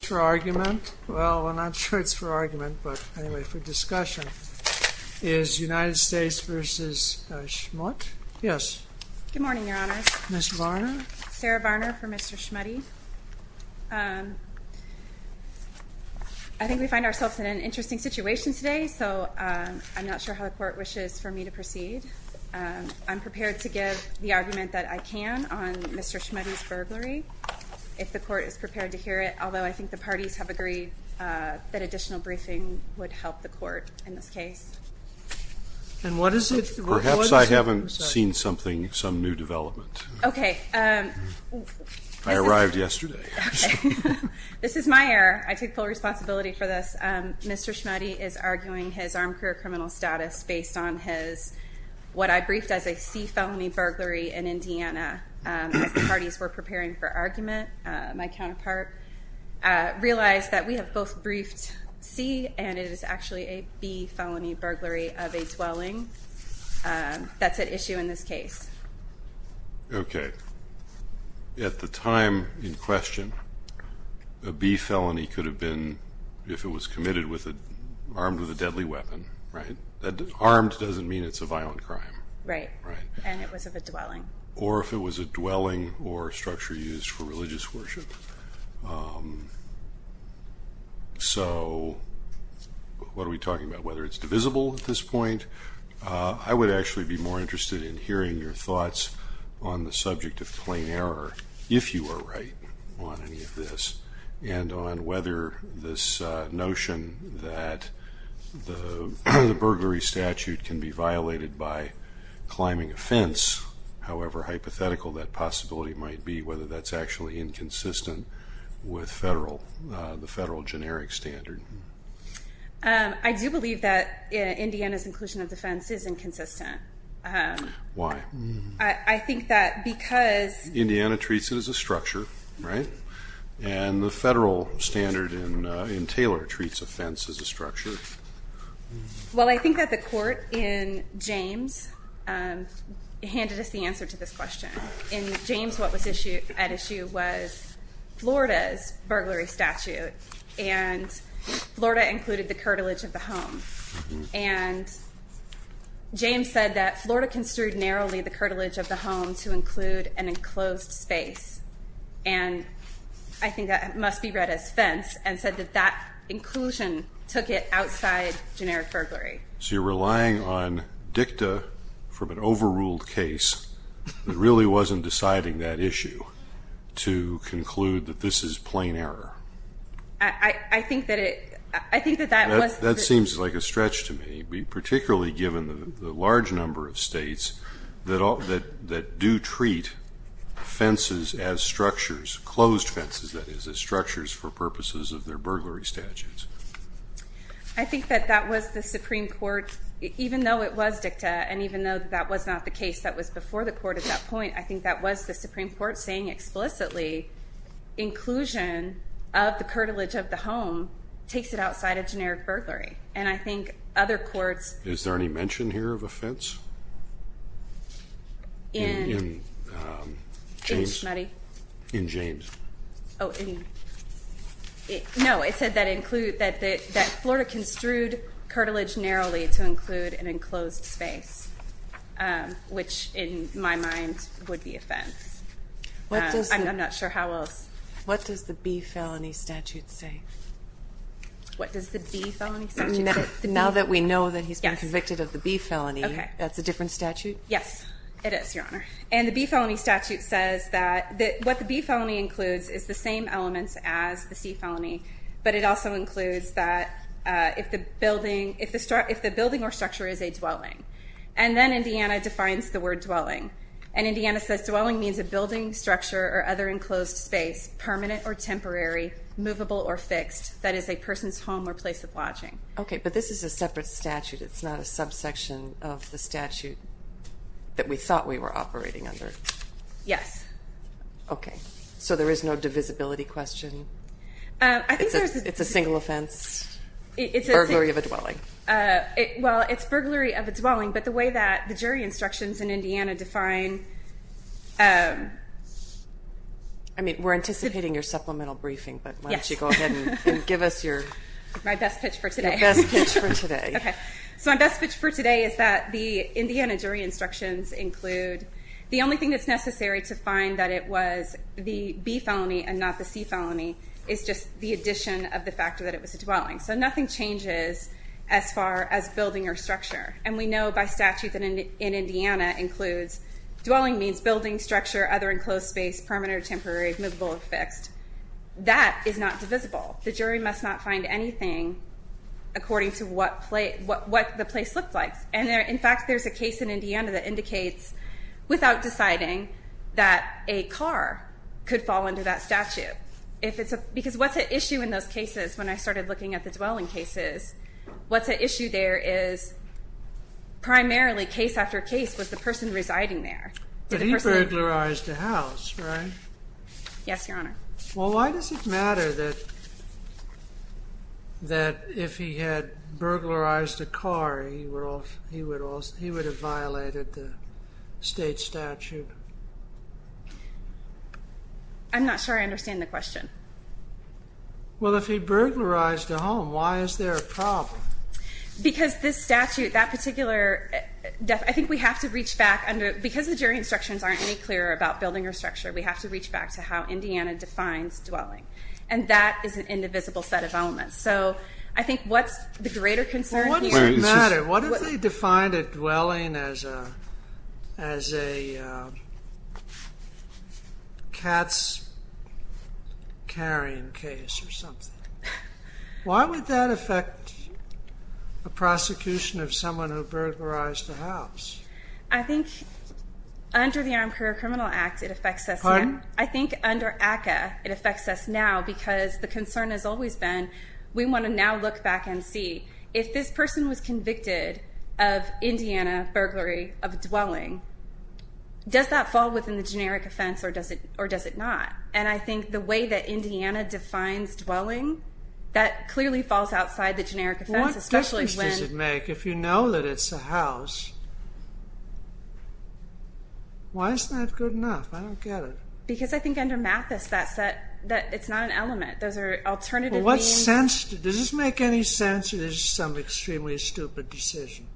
for argument well we're not sure it's for argument but anyway for discussion is United States v. Schmutte yes good morning your honor Miss Varner Sarah Varner for Mr. Schmutte I think we find ourselves in an interesting situation today so I'm not sure how the court wishes for me to proceed I'm prepared to give the argument that I can on Mr. Schmutte's the parties have agreed that additional briefing would help the court in this case and what is it perhaps I haven't seen something some new development okay I arrived yesterday this is my error I take full responsibility for this Mr. Schmutte is arguing his armed career criminal status based on his what I briefed as a C felony burglary in Indiana the parties were preparing for realize that we have both briefed C and it is actually a B felony burglary of a dwelling that's at issue in this case okay at the time in question a B felony could have been if it was committed with a armed with a deadly weapon right that armed doesn't mean it's a violent crime right or if it was a dwelling or so what are we talking about whether it's divisible at this point I would actually be more interested in hearing your thoughts on the subject of plain error if you are right on any of this and on whether this notion that the burglary statute can be violated by climbing a fence however hypothetical that possibility might be whether that's actually inconsistent with federal the federal generic standard I do believe that Indiana's inclusion of defense is inconsistent why I think that because Indiana treats it as a structure right and the federal standard in in Taylor treats offense as a structure well I James what was issued at issue was Florida's burglary statute and Florida included the curtilage of the home and James said that Florida construed narrowly the curtilage of the home to include an enclosed space and I think that must be read as fence and said that that inclusion took it outside generic so you're relying on dicta from an overruled case it really wasn't deciding that issue to conclude that this is plain error I think that it I think that that was that seems like a stretch to me be particularly given the large number of states that all that that do treat fences as structures closed fences that is as structures for purposes of their burglary statutes I think that that was the Supreme Court even though it was dicta and even though that was not the case that was before the court at that point I think that was the Supreme Court saying explicitly inclusion of the curtilage of the home takes it outside of generic burglary and I think other courts is there any mention here of a fence in money in James oh no it said that include that that Florida construed curtilage narrowly to include an enclosed space which in my mind would be offense I'm not sure how else what does the B felony statute say what does the now that we know that he's convicted of the B felony okay that's a different statute yes it is your honor and the B felony statute says that that what the B felony includes is the same elements as the C felony but it also includes that if the building if the start if the building or structure is a dwelling and then Indiana defines the word dwelling and Indiana says dwelling means a building structure or other enclosed space permanent or temporary movable or fixed that is a person's home or place of lodging okay but this is a separate statute it's not a subsection of the statute that we thought we were operating under yes okay so there is no divisibility question it's a single offense it's a very of a dwelling well it's burglary of a dwelling but the way that the jury instructions in Indiana define I mean we're anticipating your supplemental briefing but why don't you go ahead and give us your my best pitch for today for today okay so my best pitch for today is that the Indiana jury instructions include the only thing that's necessary to find that it was the addition of the fact that it was a dwelling so nothing changes as far as building or structure and we know by statute that in Indiana includes dwelling means building structure other enclosed space permanent or temporary movable or fixed that is not divisible the jury must not find anything according to what plate what what the place looks like and there in fact there's a case in Indiana that indicates without deciding that a car could fall under that statute if it's a because what's at issue in those cases when I started looking at the dwelling cases what's at issue there is primarily case after case was the person residing there but he burglarized the house right yes your honor well why does it matter that that if he had burglarized a car he were not sure I understand the question well if he burglarized the home why is there a problem because this statute that particular death I think we have to reach back under because the jury instructions aren't any clearer about building or structure we have to reach back to how Indiana defines dwelling and that is an indivisible set of elements so I think what's the greater concern what if they defined a dwelling as a as a cat's carrying case or something why would that affect a prosecution of someone who burglarized the house I think under the Armed Career Criminal Act it affects us I think under ACA it affects us now because the concern has always been we want to now look back and see if this person was convicted of Indiana burglary of dwelling does that fall within the generic offense or does it or does it not and I think the way that Indiana defines dwelling that clearly falls outside the generic especially when make if you know that it's a house why is that good enough I don't get it because I think under math is that set that it's not an element those are alternative what's sensitive does this make any sense it is some extremely stupid decision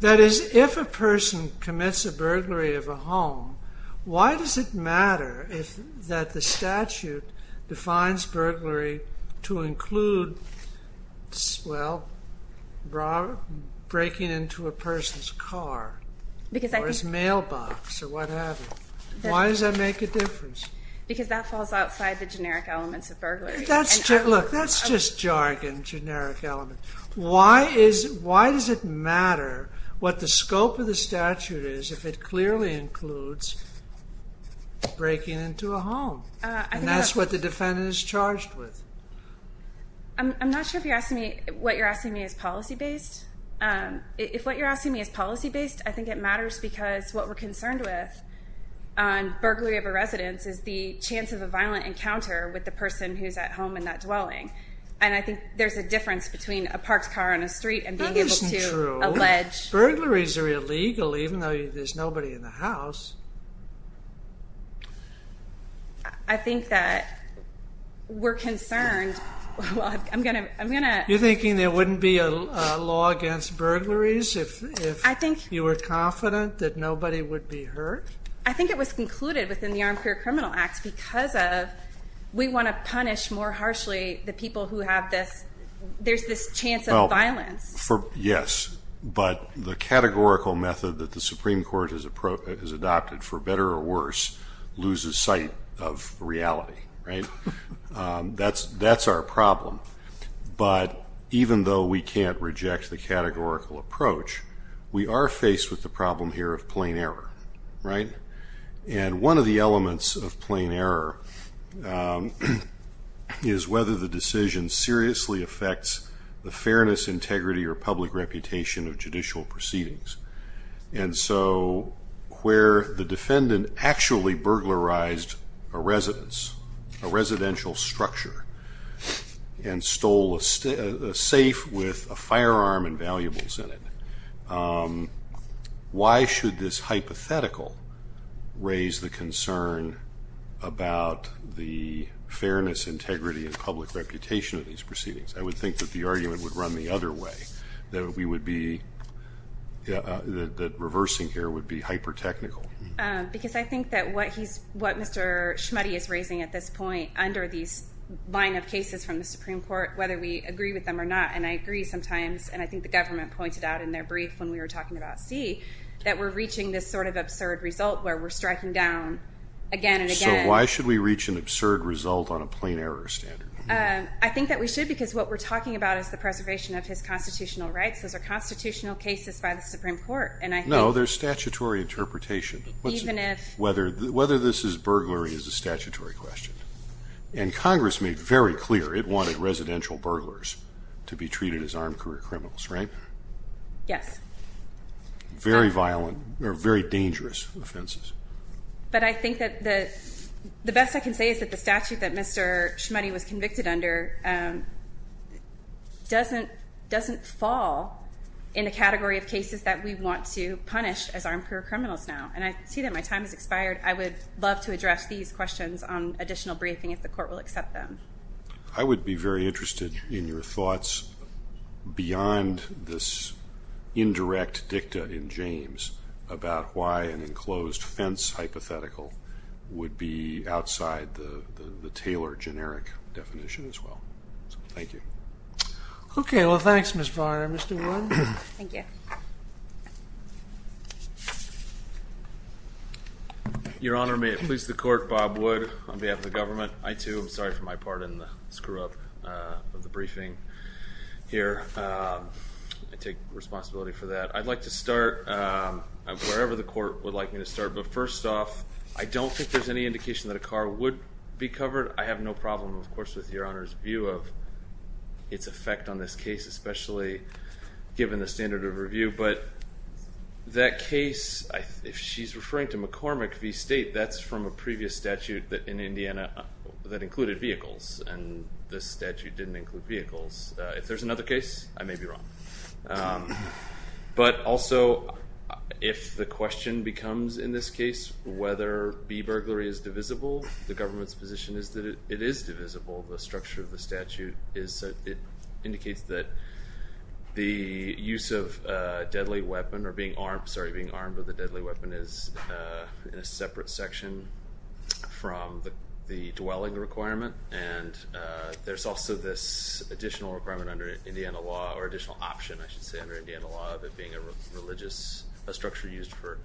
that is if a person commits a burglary of a home why does it matter if that the statute defines burglary to include swell breaking into a person's car because there's a mailbox or whatever why does that make a difference because that falls outside the generic elements of burglary that's just look that's just jargon generic element why is why does it matter what the scope of the statute is if it clearly includes breaking into a home and that's what the defendant is charged with I'm not sure if you're asking me what you're asking me is policy-based if what you're asking me is based I think it matters because what we're concerned with on burglary of a residence is the chance of a violent encounter with the person who's at home in that dwelling and I think there's a difference between a parked car on a street and be able to allege burglaries are illegal even though there's nobody in the house I think that we're concerned I'm gonna I'm gonna you're confident that nobody would be hurt I think it was concluded within the armchair criminal acts because of we want to punish more harshly the people who have this there's this chance of violence for yes but the categorical method that the Supreme Court is appropriate is adopted for better or worse loses sight of reality right that's that's our problem but even though we can't reject the categorical approach we are faced with the problem here of plain error right and one of the elements of plain error is whether the decision seriously affects the fairness integrity or public reputation of judicial proceedings and so where the defendant actually burglarized a residential structure and stole a safe with a firearm and valuables in it why should this hypothetical raise the concern about the fairness integrity and public reputation of these proceedings I would think that the argument would run the other way that we would be that reversing here would be hyper technical because I think that what he's what mr. Schmitty is raising at this point under these line of cases from the Supreme Court whether we agree with them or not and I agree sometimes and I think the government pointed out in their brief when we were talking about see that we're reaching this sort of absurd result where we're striking down again and again why should we reach an absurd result on a plain error standard I think that we should because what we're talking about is the preservation of his constitutional rights those are constitutional cases by the Supreme Court and I know there's statutory interpretation whether whether this is burglary is a statutory question and Congress made very clear it wanted residential burglars to be treated as armed career criminals right yes very violent or very dangerous offenses but I think that the best I can say is that the statute that mr. Schmitty was convicted under doesn't doesn't fall in the category of cases that we want to now and I see that my time has expired I would love to address these questions on additional briefing if the court will accept them I would be very interested in your thoughts beyond this indirect dicta in James about why an enclosed fence hypothetical would be outside the the Taylor generic definition as well thank you okay well thanks mr. your honor may it please the court Bob would on behalf of the government I too I'm sorry for my part in the screw-up of the briefing here I take responsibility for that I'd like to start wherever the court would like me to start but first off I don't think there's any indication that a car would be covered I have no problem of course with your honor's view of its effect on this case especially given the standard of review but that case if she's referring to McCormick V State that's from a previous statute that in Indiana that included vehicles and this statute didn't include vehicles if there's another case I may be wrong but also if the question becomes in this case whether be burglary is divisible the government's position is that it is divisible the structure of the statute is so it indicates that the use of deadly weapon or being armed sorry being armed with a deadly weapon is in a separate section from the dwelling requirement and there's also this additional requirement under Indiana law or additional option I should say under Indiana law of it being a religious a structure used for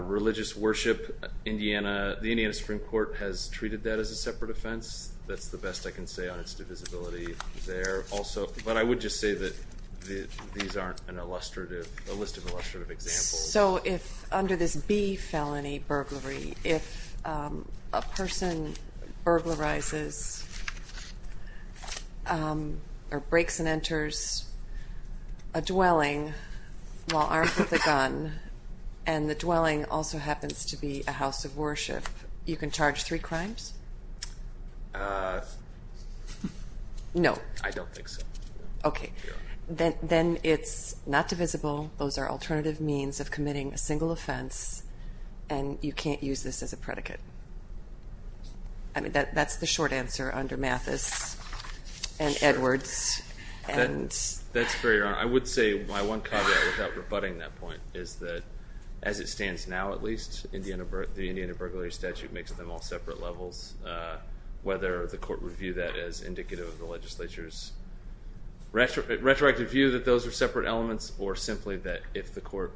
religious worship Indiana the Indiana Supreme Court has treated that as a separate offense that's the best I can say on its divisibility there also but I would just say that these aren't an illustrative a list of illustrative examples so if under this be felony burglary if a person burglarizes or breaks and enters a dwelling while armed with a gun and the dwelling also happens to be a house of worship you can charge three crimes no I don't think so okay then then it's not divisible those are alternative means of committing a single offense and you can't use this as a predicate I mean that that's the short answer under and Edwards and that's very I would say my one caveat without rebutting that point is that as it stands now at least in the end of birth the Indiana burglary statute makes them all separate levels whether the court review that as indicative of the legislature's retroactive view that those are separate elements or simply that if the court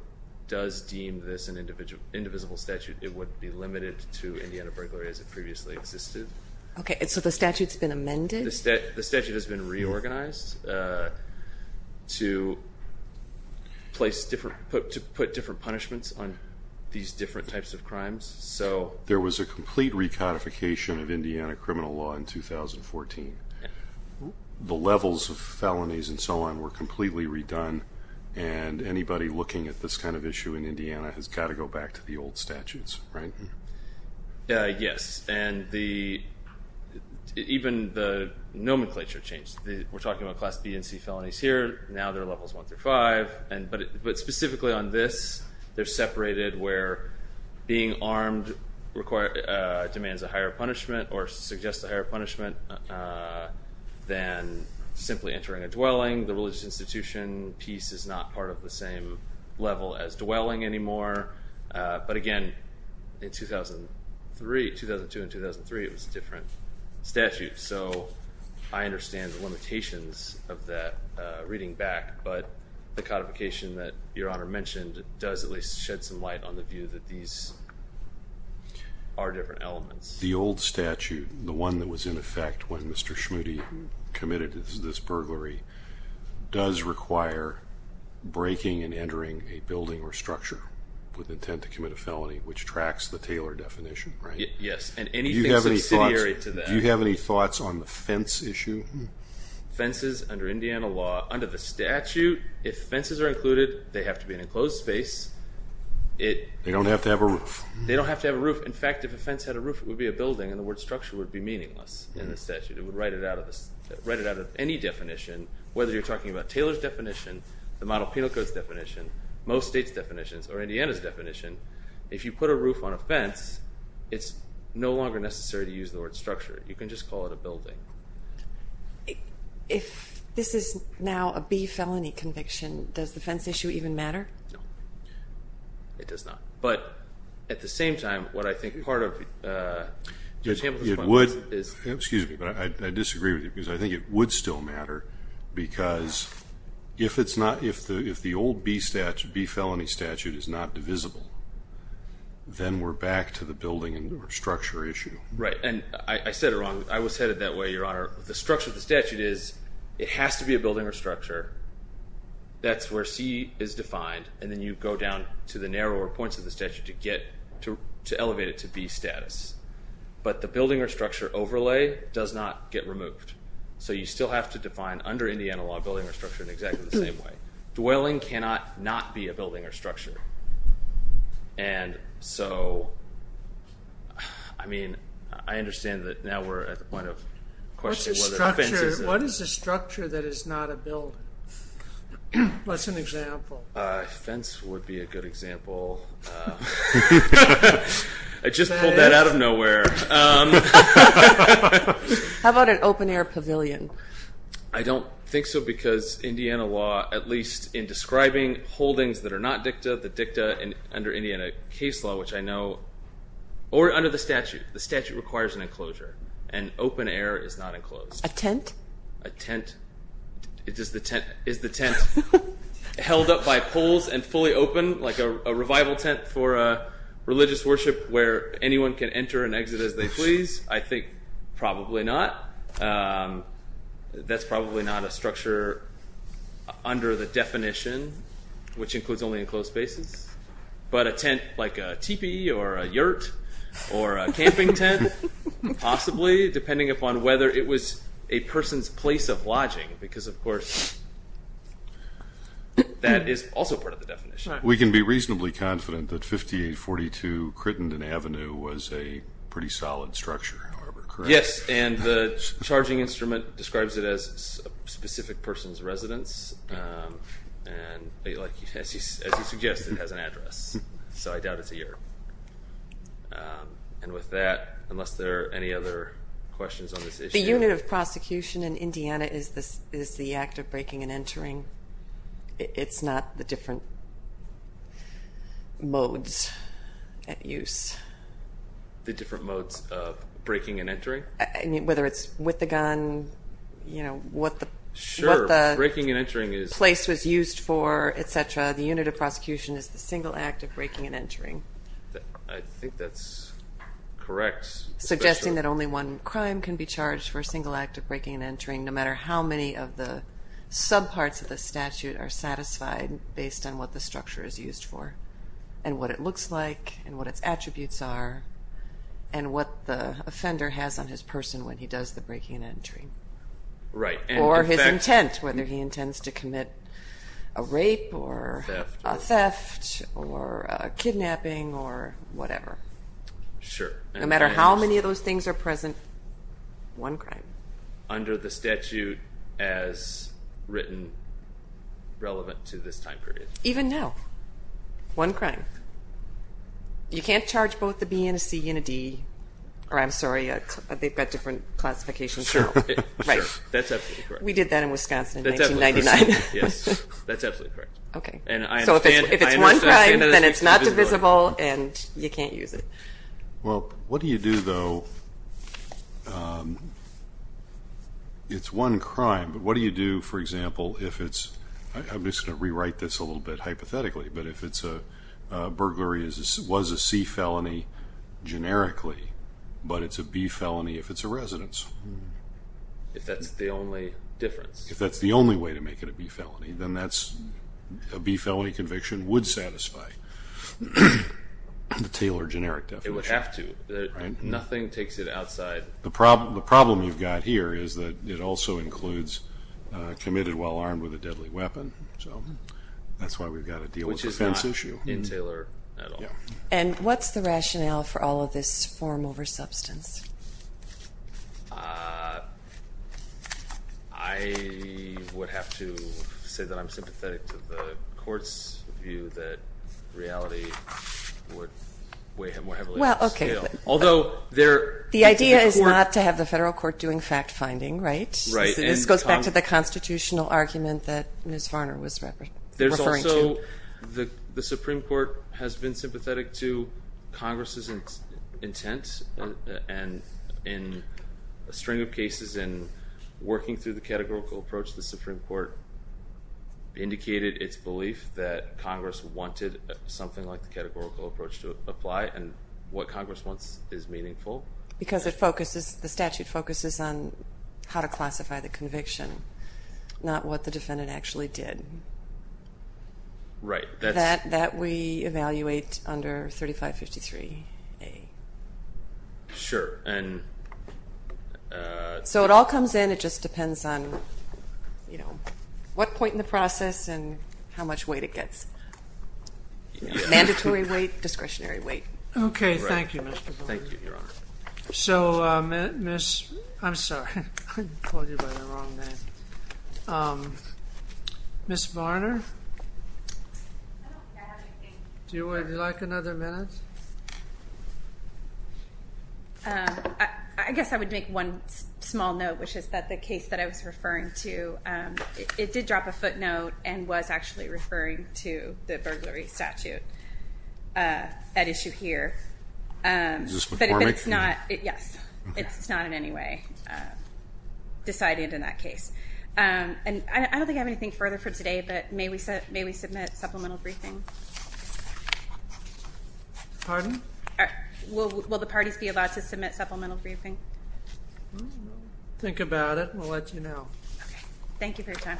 does deem this an individual indivisible statute it would be limited to Indiana burglary as it previously existed okay so the statutes been amended the statute has been reorganized to place different put to put different punishments on these different types of crimes so there was a complete recodification of Indiana criminal law in 2014 the levels of felonies and so on were completely redone and anybody looking at this kind of issue in Indiana has got to go back to the old statutes right yes and the even the nomenclature changed the we're talking about class B and C felonies here now they're levels one through five and but but specifically on this they're separated where being armed require demands a higher punishment or suggest a higher punishment than simply entering a dwelling the religious institution piece is not part of the same level as dwelling anymore but again in 2003 2002 and 2003 it was different statute so I understand the limitations of that reading back but the codification that your honor mentioned does at least shed some light on the view that these are different elements the old statute the one that was in effect when mr. Schmoody committed this burglary does require breaking and entering a building or structure with intent to commit a felony which tracks the Taylor definition right yes and any you have any thoughts on the fence issue fences under Indiana law under the statute if fences are included they have to be an enclosed space it they don't have to have a roof they don't have to have a roof in fact if a fence had a roof it would be a building and the word structure would be meaningless in the any definition whether you're talking about Taylor's definition the model penal codes definition most states definitions or Indiana's definition if you put a roof on a fence it's no longer necessary to use the word structure you can just call it a building if this is now a B felony conviction does the fence issue even matter it does not but at the same time what I think part of it would is excuse me but I disagree with you because I think it would still matter because if it's not if the if the old B statute B felony statute is not divisible then we're back to the building and structure issue right and I said it wrong I was headed that way your honor the structure of the statute is it has to be a building or structure that's where C is defined and then you go down to the narrower points of the statute to get to elevate it to be status but the building or structure overlay does not get removed so you still have to define under Indiana law building or structure in exactly the same way dwelling cannot not be a building or structure and so I mean I understand that now we're at the point of question what is the structure that is not a build what's an example fence would be a good example I just pulled that out of nowhere how about an open-air pavilion I don't think so because Indiana law at least in describing holdings that are not dicta the dicta and under Indiana case law which I know or under the statute the statute requires an enclosure and open a tent a tent it is the tent is the tent held up by poles and fully open like a revival tent for a religious worship where anyone can enter and exit as they please I think probably not that's probably not a structure under the definition which includes only enclosed spaces but a tent like a teepee or a whether it was a person's place of lodging because of course that is also part of the definition we can be reasonably confident that 5842 Crittenden Avenue was a pretty solid structure however yes and the charging instrument describes it as a specific person's residence and like you suggest it has an address so I doubt it's a year and with that unless there are any other questions on this the unit of prosecution in Indiana is this is the act of breaking and entering it's not the different modes at use the different modes of breaking and entering I mean whether it's with the gun you know what the breaking and entering is place was used for etc the unit of prosecution is the single act of breaking and entering I think that's correct suggesting that only one crime can be charged for a single act of breaking and entering no matter how many of the sub parts of the statute are satisfied based on what the structure is used for and what it looks like and what its attributes are and what the offender has on his person when he does the breaking and entry right or his intent whether he intends to commit a rape or theft or kidnapping or whatever sure no matter how many of those things are present one crime under the statute as written relevant to this time period even now one crime you can't charge both the B and C unity or I'm sorry yet they've got different classifications we did that in Wisconsin not divisible and you can't use it well what do you do though it's one crime but what do you do for example if it's I'm just gonna rewrite this a little bit hypothetically but if it's a burglary is this was a C felony generically but it's a B felony if it's a residence if that's the only difference if that's the only way to make it a B felony then that's a B felony conviction would satisfy the Taylor generic definition it would have to nothing takes it outside the problem the problem you've got here is that it also includes committed while armed with a deadly weapon so that's why we've got a deal which is not an issue in Taylor and what's the rationale for all of this form over substance I would have to say that I'm sympathetic to the court's view that reality would weigh him well okay although there the idea is not to have the federal court doing fact finding right right this goes back to the constitutional argument that miss Supreme Court has been sympathetic to Congress's intent and in a string of cases in working through the categorical approach the Supreme Court indicated its belief that Congress wanted something like the categorical approach to apply and what Congress wants is meaningful because it focuses the statute focuses on how to classify the conviction not what the defendant actually did right that that we evaluate under 3553 a sure and so it all comes in it just depends on you know what point in the process and how much weight it gets mandatory weight discretionary weight okay thank you so miss I'm sorry miss Varner do you like another minute I guess I would make one small note which is that the case that I was referring to it did drop a footnote and was actually referring to the burglary statute at issue here but it's not it yes it's not in any way decided in that case and I don't think I have anything further for today but maybe so maybe submit supplemental briefing pardon well will the parties be allowed to submit supplemental briefing think about it we'll let you know thank you for your time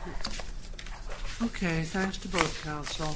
okay thanks to both counsel